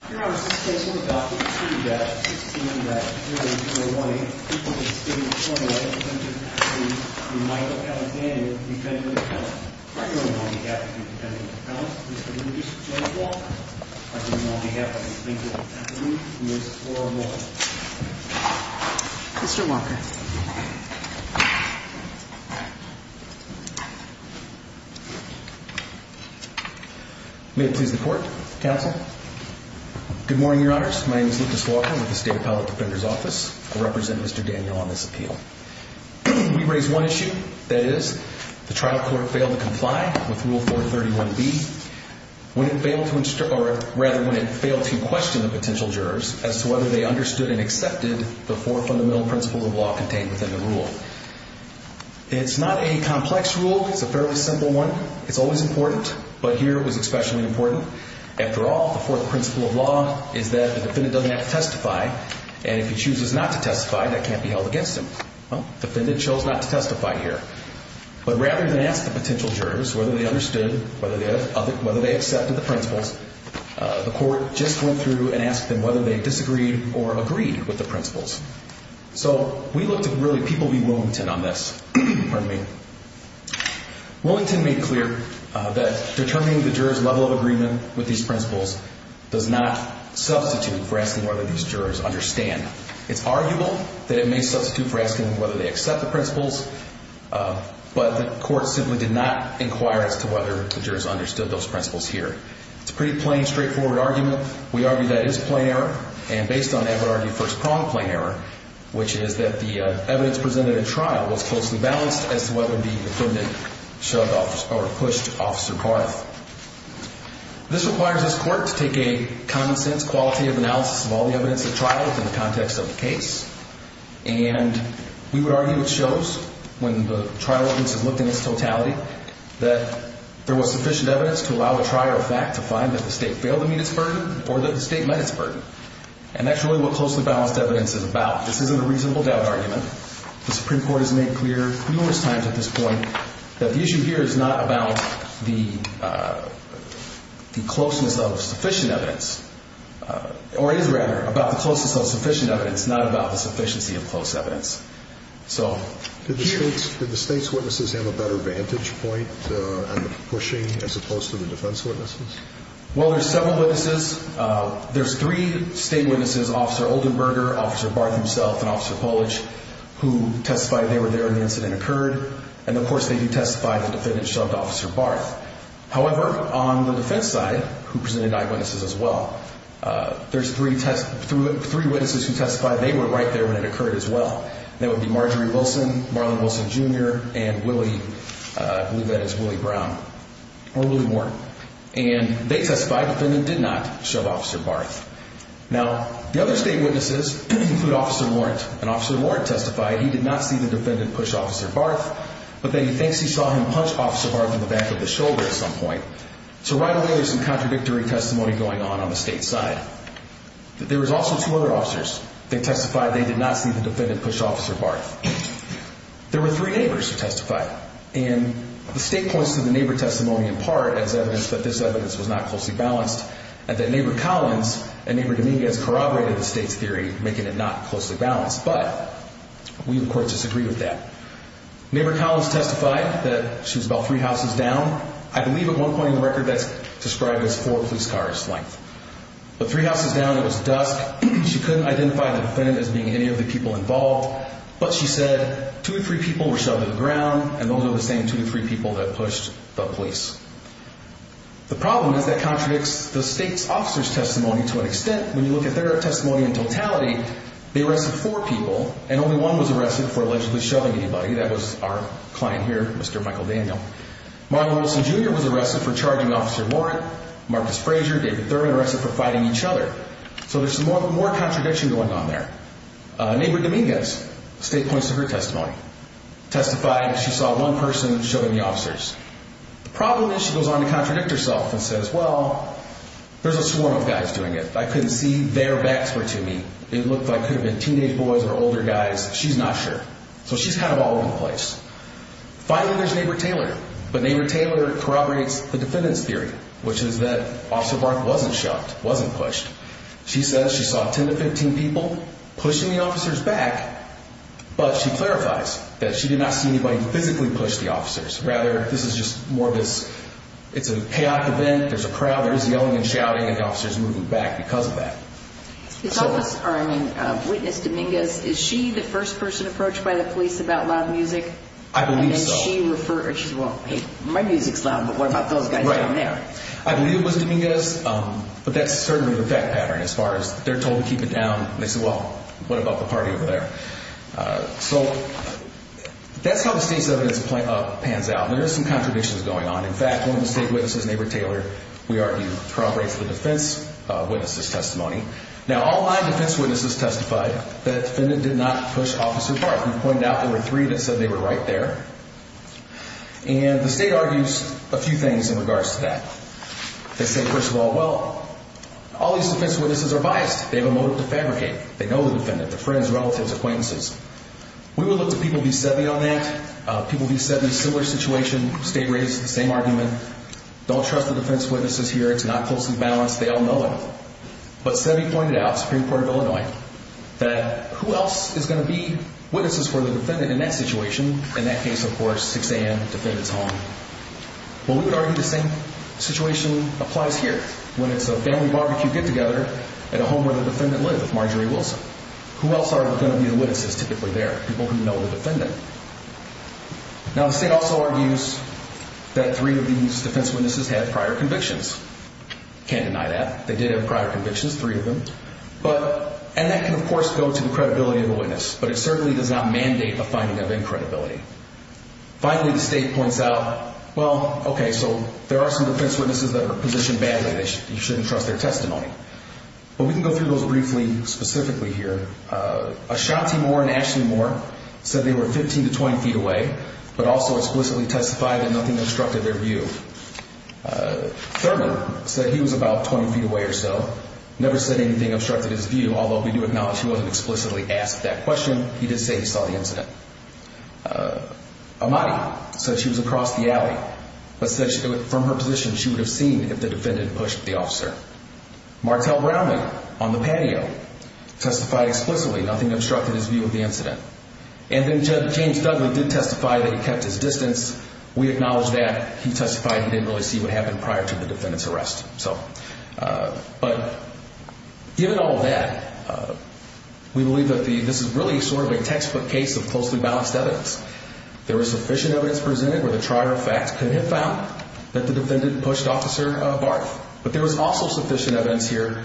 Mr. Walker. May it please the court, counsel. Good morning, your honors. My name is Lucas Walker with the State Appellate Defender's Office. I represent Mr. Daniel on this appeal. We raise one issue, that is, the trial court failed to comply with Rule 431B, when it failed to question the potential jurors as to whether they understood and accepted the four fundamental principles of law contained within the rule. It's not a complex rule. It's a fairly simple one. It's always important, but here it was especially important. After all, the fourth principle of law is that the defendant doesn't have to testify, and if he chooses not to testify, that can't be held against him. Well, the defendant chose not to testify here. But rather than ask the potential jurors whether they understood, whether they accepted the principles, the court just went through and asked them whether they disagreed or agreed with the principles. So we looked at really people v. Willington on this. Pardon me. Willington made clear that determining the jurors' level of agreement with these principles does not substitute for asking whether these jurors understand. It's arguable that it may substitute for asking whether they accept the principles, but the court simply did not inquire as to whether the jurors understood those principles here. It's a pretty plain, straightforward argument. We argue that it is a plain error, and based on the first-prong plain error, which is that the evidence presented in trial was closely balanced as to whether the defendant shoved or pushed Officer Carth. This requires this court to take a common-sense quality of analysis of all the evidence at trial within the context of the case, and we would argue it shows, when the trial evidence is looked at in its totality, that there was sufficient evidence to allow the trial to find that the state failed to meet its burden or that the state met its burden. And that's really what closely balanced evidence is about. This isn't a reasonable doubt argument. The Supreme Court has made clear numerous times at this point that the issue here is not about the closeness of sufficient evidence, or is, rather, about the closeness of sufficient evidence, not about the sufficiency of close evidence. So here... Did the state's witnesses have a better vantage point on the pushing as opposed to the defense witnesses? Well, there's several witnesses. There's three state witnesses, Officer Oldenburger, Officer Barth himself, and Officer Polich, who testified they were there when the incident occurred, and, of course, they do testify the defendant shoved Officer Barth. However, on the defense side, who presented eyewitnesses as well, there's three witnesses who testified they were right there when it occurred as well. That would be Marjorie Wilson, Marlon Wilson, Jr., and Willie, I believe that is Willie Brown, or Willie Moore. And they testified the defendant did not shove Officer Barth. Now, the other state witnesses include Officer Warrant, and Officer Warrant testified he did not see the defendant push Officer Barth, but that he thinks he saw him punch Officer Barth in the back of the shoulder at some point. So right away, there's some contradictory testimony going on on the state side. There was also two other officers that testified they did not see the defendant push Officer Barth. There were three neighbors who testified, and the state points to the neighbor testimony, in part, as evidence that this evidence was not closely balanced, and that Neighbor Collins and Neighbor Dominguez corroborated the state's theory, making it not closely balanced. But we, of course, disagree with that. Neighbor Collins testified that she was about three houses down. I believe at one point in the record that's described as four police cars' length. But three houses down, it was dusk. She couldn't identify the defendant as being any of the people involved, but she said two or three people were shoved to the ground, and those were the same two or three people that pushed the police. The problem is that contradicts the state's officer's testimony to an extent. When you look at their testimony in totality, they arrested four people, and only one was arrested for allegedly shoving anybody. That was our client here, Mr. Michael Daniel. Marlon Wilson, Jr. was arrested for charging Officer Warrant. Marcus Frazier, David Thurman, arrested for fighting each other. So there's more contradiction going on there. Neighbor Dominguez, the state points to her testimony, testified she saw one person shoving the officers. The problem is she goes on to contradict herself and says, well, there's a swarm of guys doing it. I couldn't see their backs were to me. It looked like it could have been teenage boys or older guys. She's not sure. So she's kind of all over the place. Finally, there's Neighbor Taylor. But Neighbor Taylor corroborates the defendant's theory, which is that Officer Warrant wasn't shoved, wasn't pushed. She says she saw 10 to 15 people pushing the officers back, but she clarifies that she did not see anybody physically push the officers. Rather, this is just more of this, it's a chaotic event. There's a crowd, there's yelling and shouting, and the officers are moving back because of that. Witness Dominguez, is she the first person approached by the police about loud music? I believe so. And then she refers, well, hey, my music's loud, but what about those guys down there? I believe it was Dominguez, but that's certainly the fact pattern as far as they're told to keep it down. They say, well, what about the party over there? So that's how the state's evidence pans out. There are some contradictions going on. In fact, one of the state witnesses, Neighbor Taylor, we argue corroborates the defense witness's testimony. Now, all nine defense witnesses testified that the defendant did not push Officer Barth. We've pointed out there were three that said they were right there. And the state argues a few things in regards to that. They say, first of all, well, all these defense witnesses are biased. They have a motive to fabricate. They know the defendant. They're friends, relatives, acquaintances. We will look to People v. Seve on that. People v. Seve, similar situation. State raised the same argument. Don't trust the defense witnesses here. It's not closely balanced. They all know it. But Seve pointed out, Supreme Court of Illinois, that who else is going to be witnesses for the defendant in that situation? In that case, of course, 6 a.m., defendant's home. Well, we would argue the same situation applies here, when it's a family barbecue get-together at a home where the defendant lived, Marjorie Wilson. Who else are going to be the witnesses typically there? People who know the defendant. Now, the state also argues that three of these defense witnesses had prior convictions. Can't deny that. They did have prior convictions, three of them. And that can, of course, go to the credibility of the witness. But it certainly does not mandate a finding of incredibility. Finally, the state points out, well, okay, so there are some defense witnesses that are positioned badly. You shouldn't trust their testimony. But we can go through those briefly specifically here. Ashanti Moore and Ashley Moore said they were 15 to 20 feet away, but also explicitly testified that nothing obstructed their view. Thurman said he was about 20 feet away or so. Never said anything obstructed his view, although we do acknowledge he wasn't explicitly asked that question. He did say he saw the incident. Ahmadi said she was across the alley, but said from her position she would have seen if the defendant pushed the officer. Martel Brownlee on the patio testified explicitly, nothing obstructed his view of the incident. And then James Dudley did testify that he kept his distance. We acknowledge that. He testified he didn't really see what happened prior to the defendant's arrest. But given all of that, we believe that this is really sort of a textbook case of closely balanced evidence. There was sufficient evidence presented where the trier of facts could have found that the defendant pushed Officer Barth. But there was also sufficient evidence here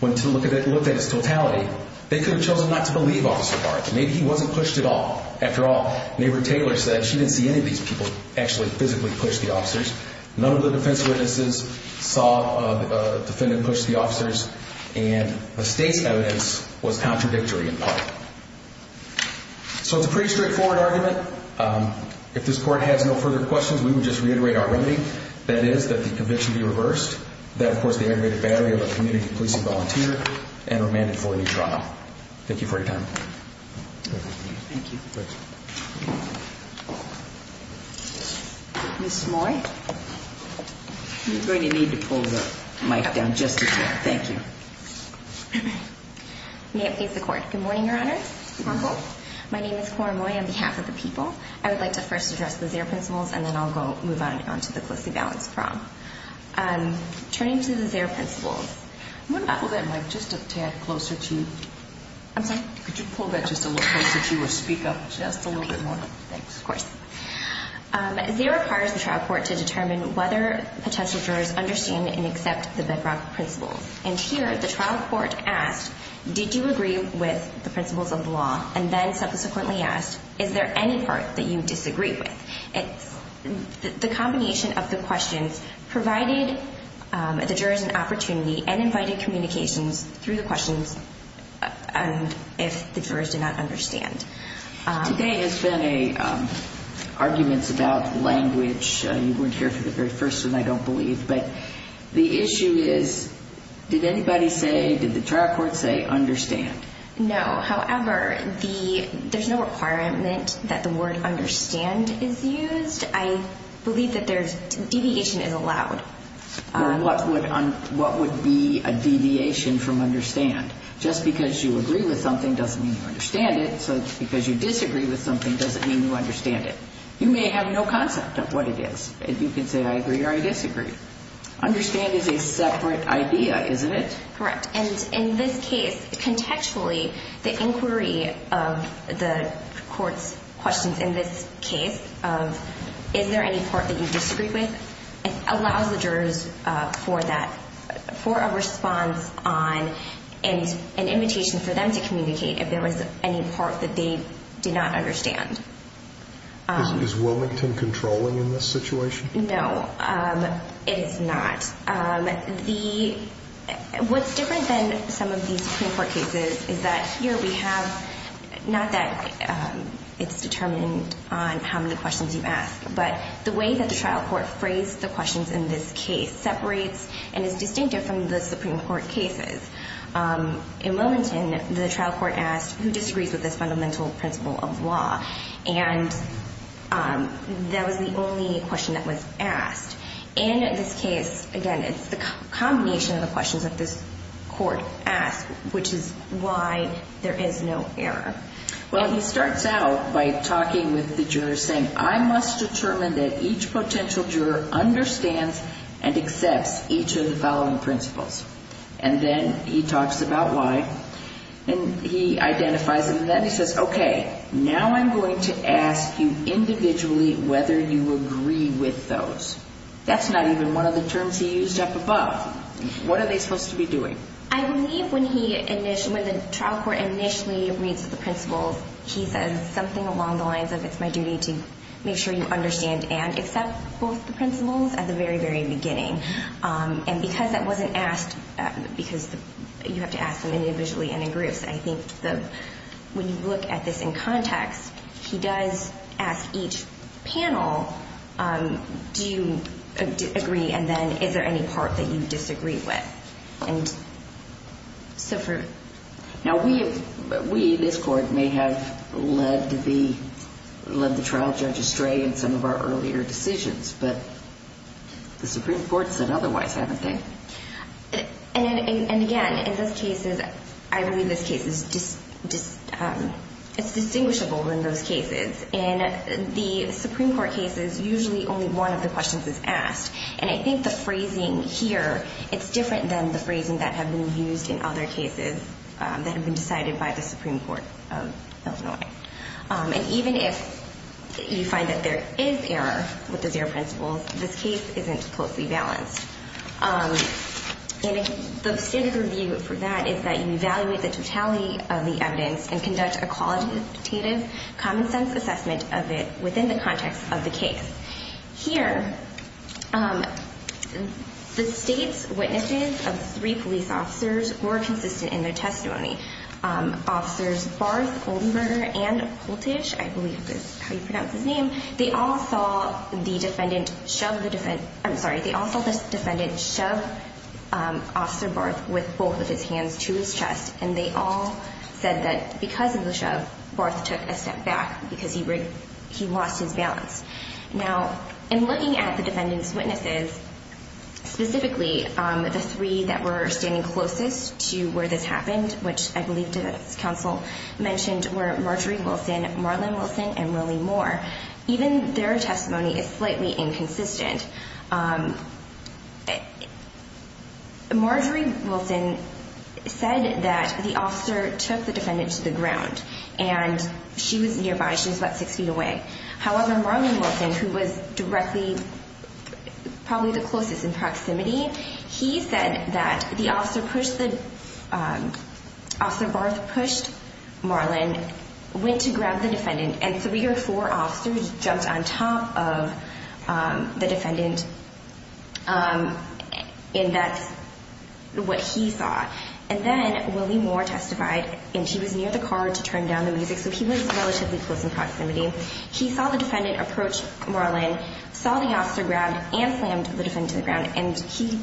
when to look at its totality. They could have chosen not to believe Officer Barth. Maybe he wasn't pushed at all. After all, neighbor Taylor said she didn't see any of these people actually physically push the officers. None of the defense witnesses saw the defendant push the officers. And the state's evidence was contradictory in part. So it's a pretty straightforward argument. If this court has no further questions, we would just reiterate our remedy. That is that the conviction be reversed, that, of course, the aggravated battery of a community policing volunteer, and remanded for a new trial. Thank you for your time. Thank you. Ms. Moy. You're going to need to pull the mic down just a tad. Thank you. May it please the Court. Good morning, Your Honor. Good morning. My name is Cora Moy on behalf of the people. I would like to first address the Xero principles, and then I'll move on to the closely balanced prong. Turning to the Xero principles. I'm going to pull that mic just a tad closer to you. I'm sorry? Could you pull that just a little closer to you or speak up a little bit? Just a little bit more. Thanks. Of course. Xero requires the trial court to determine whether potential jurors understand and accept the bedrock principles. And here, the trial court asked, did you agree with the principles of the law? And then subsequently asked, is there any part that you disagree with? The combination of the questions provided the jurors an opportunity and invited communications through the questions if the jurors did not understand. Today has been arguments about language. You weren't here for the very first one, I don't believe. But the issue is, did anybody say, did the trial court say, understand? No. However, there's no requirement that the word understand is used. I believe that deviation is allowed. What would be a deviation from understand? Just because you agree with something doesn't mean you understand it. Just because you disagree with something doesn't mean you understand it. You may have no concept of what it is. You can say, I agree or I disagree. Understand is a separate idea, isn't it? Correct. And in this case, contextually, the inquiry of the court's questions in this case of, is there any part that you disagree with, allows the jurors for that, for a response on an invitation for them to communicate if there was any part that they did not understand. Is Wilmington controlling in this situation? No, it is not. What's different than some of these Supreme Court cases is that here we have, not that it's determined on how many questions you ask, but the way that the trial court phrased the questions in this case separates and is distinctive from the Supreme Court cases. In Wilmington, the trial court asked, who disagrees with this fundamental principle of law? And that was the only question that was asked. In this case, again, it's the combination of the questions that this court asked, which is why there is no error. Well, he starts out by talking with the jurors, saying, I must determine that each potential juror understands and accepts each of the following principles. And then he talks about why, and he identifies them, and then he says, Okay, now I'm going to ask you individually whether you agree with those. That's not even one of the terms he used up above. What are they supposed to be doing? I believe when the trial court initially reads the principles, he says something along the lines of, It's my duty to make sure you understand and accept both the principles at the very, very beginning. And because that wasn't asked, because you have to ask them individually and in groups, I think when you look at this in context, he does ask each panel, Do you agree? And then, is there any part that you disagree with? Now, we, this court, may have led the trial judge astray in some of our earlier decisions, but the Supreme Court said otherwise, haven't they? And again, I believe this case is distinguishable in those cases. In the Supreme Court cases, usually only one of the questions is asked, and I think the phrasing here, it's different than the phrasing that had been used in other cases that had been decided by the Supreme Court of Illinois. And even if you find that there is error with the zero principles, this case isn't closely balanced. And the standard review for that is that you evaluate the totality of the evidence and conduct a qualitative, common-sense assessment of it within the context of the case. Here, the state's witnesses of three police officers were consistent in their testimony. Officers Barth, Oldenberger, and Koltage, I believe is how you pronounce his name, they all saw the defendant shove Officer Barth with both of his hands to his chest, and they all said that because of the shove, Barth took a step back because he lost his balance. Now, in looking at the defendant's witnesses, specifically the three that were standing closest to where this happened, which I believe the counsel mentioned were Marjorie Wilson, Marlon Wilson, and Willie Moore, even their testimony is slightly inconsistent. Marjorie Wilson said that the officer took the defendant to the ground, and she was nearby. She was about six feet away. However, Marlon Wilson, who was directly probably the closest in proximity, he said that Officer Barth pushed Marlon, went to grab the defendant, and three or four officers jumped on top of the defendant, and that's what he saw. And then Willie Moore testified, and he was near the car to turn down the music, so he was relatively close in proximity. He saw the defendant approach Marlon, saw the officer grab, and slammed the defendant to the ground, and he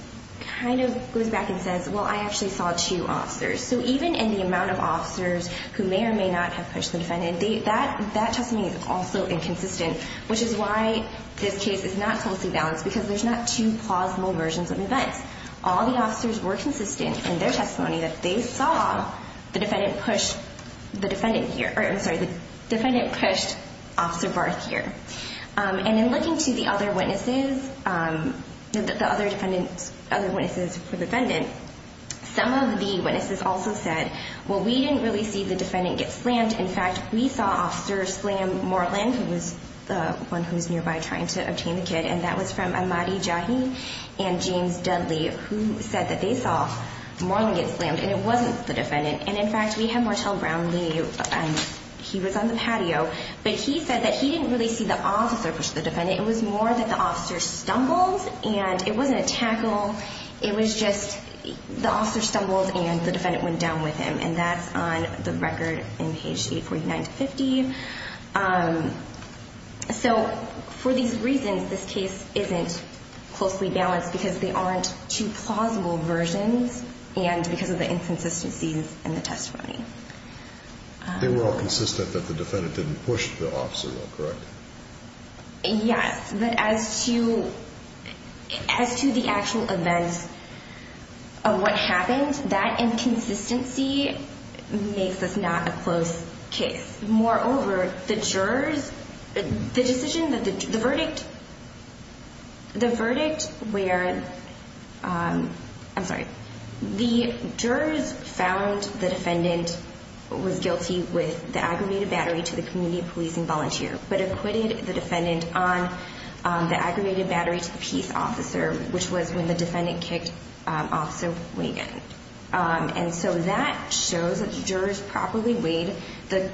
kind of goes back and says, well, I actually saw two officers. So even in the amount of officers who may or may not have pushed the defendant, that testimony is also inconsistent, which is why this case is not closely balanced because there's not two plausible versions of events. All the officers were consistent in their testimony that they saw the defendant push Officer Barth here. And in looking to the other witnesses, the other witnesses for the defendant, some of the witnesses also said, well, we didn't really see the defendant get slammed. In fact, we saw officers slam Marlon, who was the one who was nearby trying to obtain the kid, and that was from Amadi Jahi and James Dudley, who said that they saw Marlon get slammed, and it wasn't the defendant. And in fact, we had Martel Brownlee. He was on the patio, but he said that he didn't really see the officer push the defendant. It was more that the officer stumbled, and it wasn't a tackle. It was just the officer stumbled and the defendant went down with him, and that's on the record in page 849-50. So for these reasons, this case isn't closely balanced because they aren't two plausible versions and because of the inconsistencies in the testimony. They were all consistent that the defendant didn't push the officer, though, correct? Yes, but as to the actual events of what happened, that inconsistency makes this not a close case. Moreover, the verdict where the jurors found the defendant was guilty with the aggravated battery to the community policing volunteer but acquitted the defendant on the aggravated battery to the peace officer, which was when the defendant kicked Officer Wigand. And so that shows that the jurors properly weighed the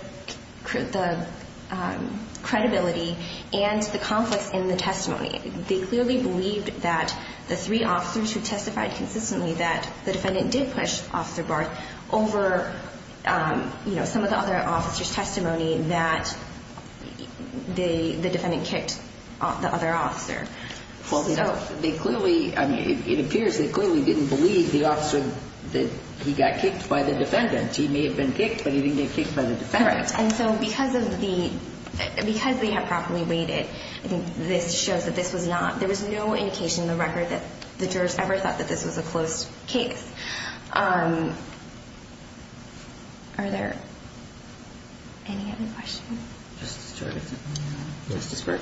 credibility and the conflicts in the testimony. They clearly believed that the three officers who testified consistently that the defendant did push Officer Barth over some of the other officers' testimony that the defendant kicked the other officer. It appears they clearly didn't believe the officer that he got kicked by the defendant. He may have been kicked, but he didn't get kicked by the defendant. Correct. And so because they had properly weighted, this shows that this was not – there was no indication in the record that the jurors ever thought that this was a close case. Are there any other questions? Justice Jorgensen. Justice Burke.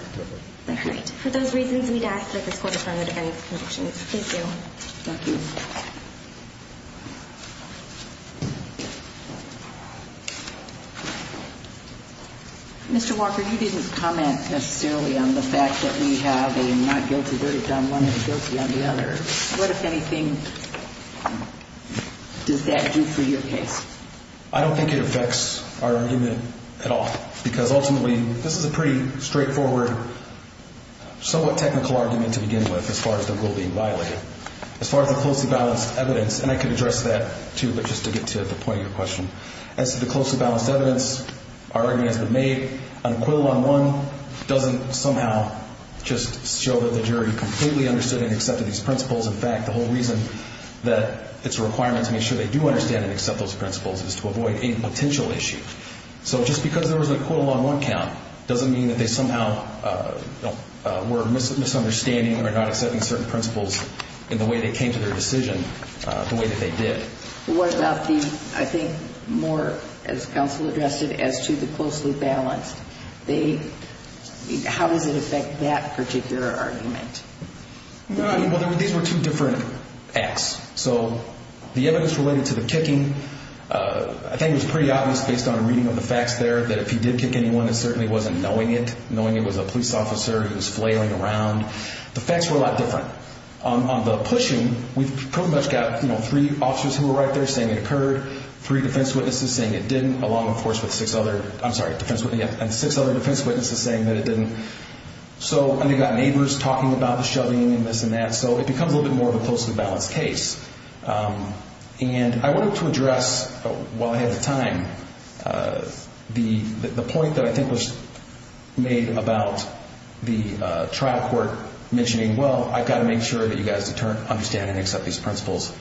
All right. For those reasons, we'd ask that this court affirm the defense's convictions. Thank you. Thank you. Mr. Walker, you didn't comment necessarily on the fact that we have a not guilty verdict on one and a guilty on the other. What, if anything, does that do for your case? I don't think it affects our argument at all, because ultimately this is a pretty straightforward, somewhat technical argument to begin with as far as the rule being violated. As far as the closely balanced evidence, and I can address that too, but just to get to the point of your question. As to the closely balanced evidence, our argument has been made. An acquittal on one doesn't somehow just show that the jury completely understood and accepted these principles. In fact, the whole reason that it's a requirement to make sure they do understand and accept those principles is to avoid any potential issue. So just because there was an acquittal on one count doesn't mean that they somehow were misunderstanding or not accepting certain principles in the way they came to their decision the way that they did. What about the, I think, more, as counsel addressed it, as to the closely balanced? How does it affect that particular argument? Well, these were two different acts. So the evidence related to the kicking, I think it was pretty obvious based on a reading of the facts there that if he did kick anyone, it certainly wasn't knowing it, knowing it was a police officer who was flailing around. The facts were a lot different. On the pushing, we've pretty much got three officers who were right there saying it occurred, three defense witnesses saying it didn't, along, of course, with six other, I'm sorry, and six other defense witnesses saying that it didn't. And they've got neighbors talking about the shoving and this and that. So it becomes a little bit more of a closely balanced case. And I wanted to address, while I had the time, the point that I think was made about the trial court mentioning, well, I've got to make sure that you guys understand and accept these principles,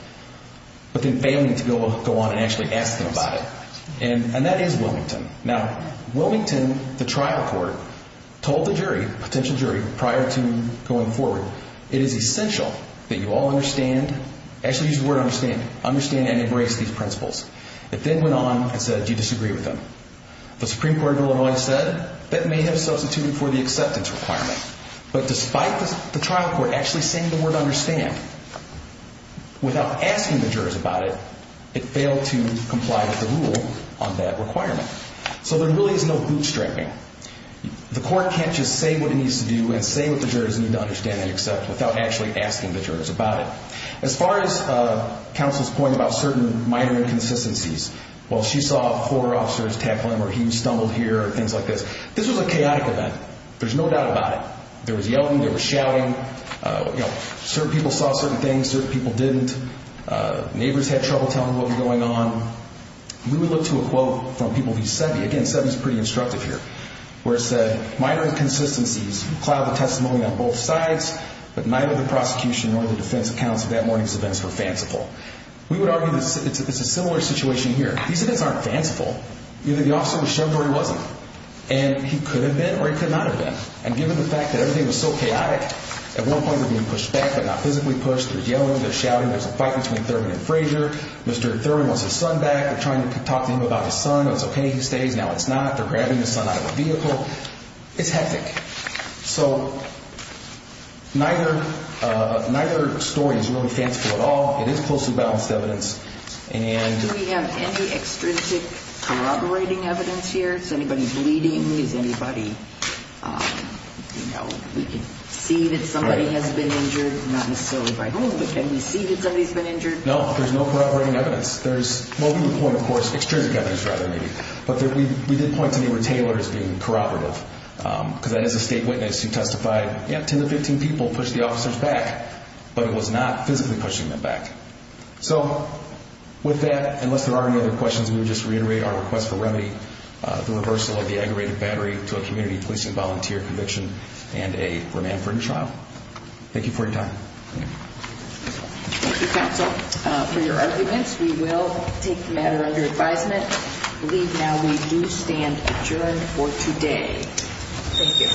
but then failing to go on and actually ask them about it. And that is Wilmington. Now, Wilmington, the trial court, told the jury, potential jury, prior to going forward, it is essential that you all understand, actually use the word understand, understand and embrace these principles. It then went on and said, do you disagree with them? The Supreme Court of Illinois said, that may have substituted for the acceptance requirement. But despite the trial court actually saying the word understand, without asking the jurors about it, it failed to comply with the rule on that requirement. So there really is no bootstrapping. The court can't just say what it needs to do and say what the jurors need to understand and accept without actually asking the jurors about it. As far as counsel's point about certain minor inconsistencies, well, she saw four officers tackling where he stumbled here and things like this. This was a chaotic event. There's no doubt about it. There was yelling. There was shouting. Certain people saw certain things. Certain people didn't. Neighbors had trouble telling what was going on. We would look to a quote from people who said, again, Seve is pretty instructive here, where it said, minor inconsistencies cloud the testimony on both sides, but neither the prosecution nor the defense counsel that morning's events were fanciful. We would argue that it's a similar situation here. These events aren't fanciful. Either the officer was shoved or he wasn't. And he could have been or he could not have been. And given the fact that everything was so chaotic, at one point they're being pushed back, but not physically pushed. There's yelling. There's shouting. There's a fight between Thurman and Frazier. Mr. Thurman wants his son back. They're trying to talk to him about his son. It's okay. He stays. Now it's not. They're grabbing his son out of a vehicle. It's hectic. So neither story is really fanciful at all. It is closely balanced evidence. Do we have any extrinsic corroborating evidence here? Is anybody bleeding? Is anybody, you know, we can see that somebody has been injured, not necessarily by whom, but can we see that somebody's been injured? No. There's no corroborating evidence. There's, well, we would point, of course, extrinsic evidence rather, maybe. But we did point to neighbor Taylor as being corroborative, because that is a state witness who testified, yeah, 10 to 15 people pushed the officers back, but it was not physically pushing them back. So with that, unless there are any other questions, we would just reiterate our request for remedy, the reversal of the aggravated battery to a community policing volunteer conviction and a remand-free trial. Thank you for your time. Thank you, counsel, for your arguments. We will take the matter under advisement. I believe now we do stand adjourned for today. Thank you.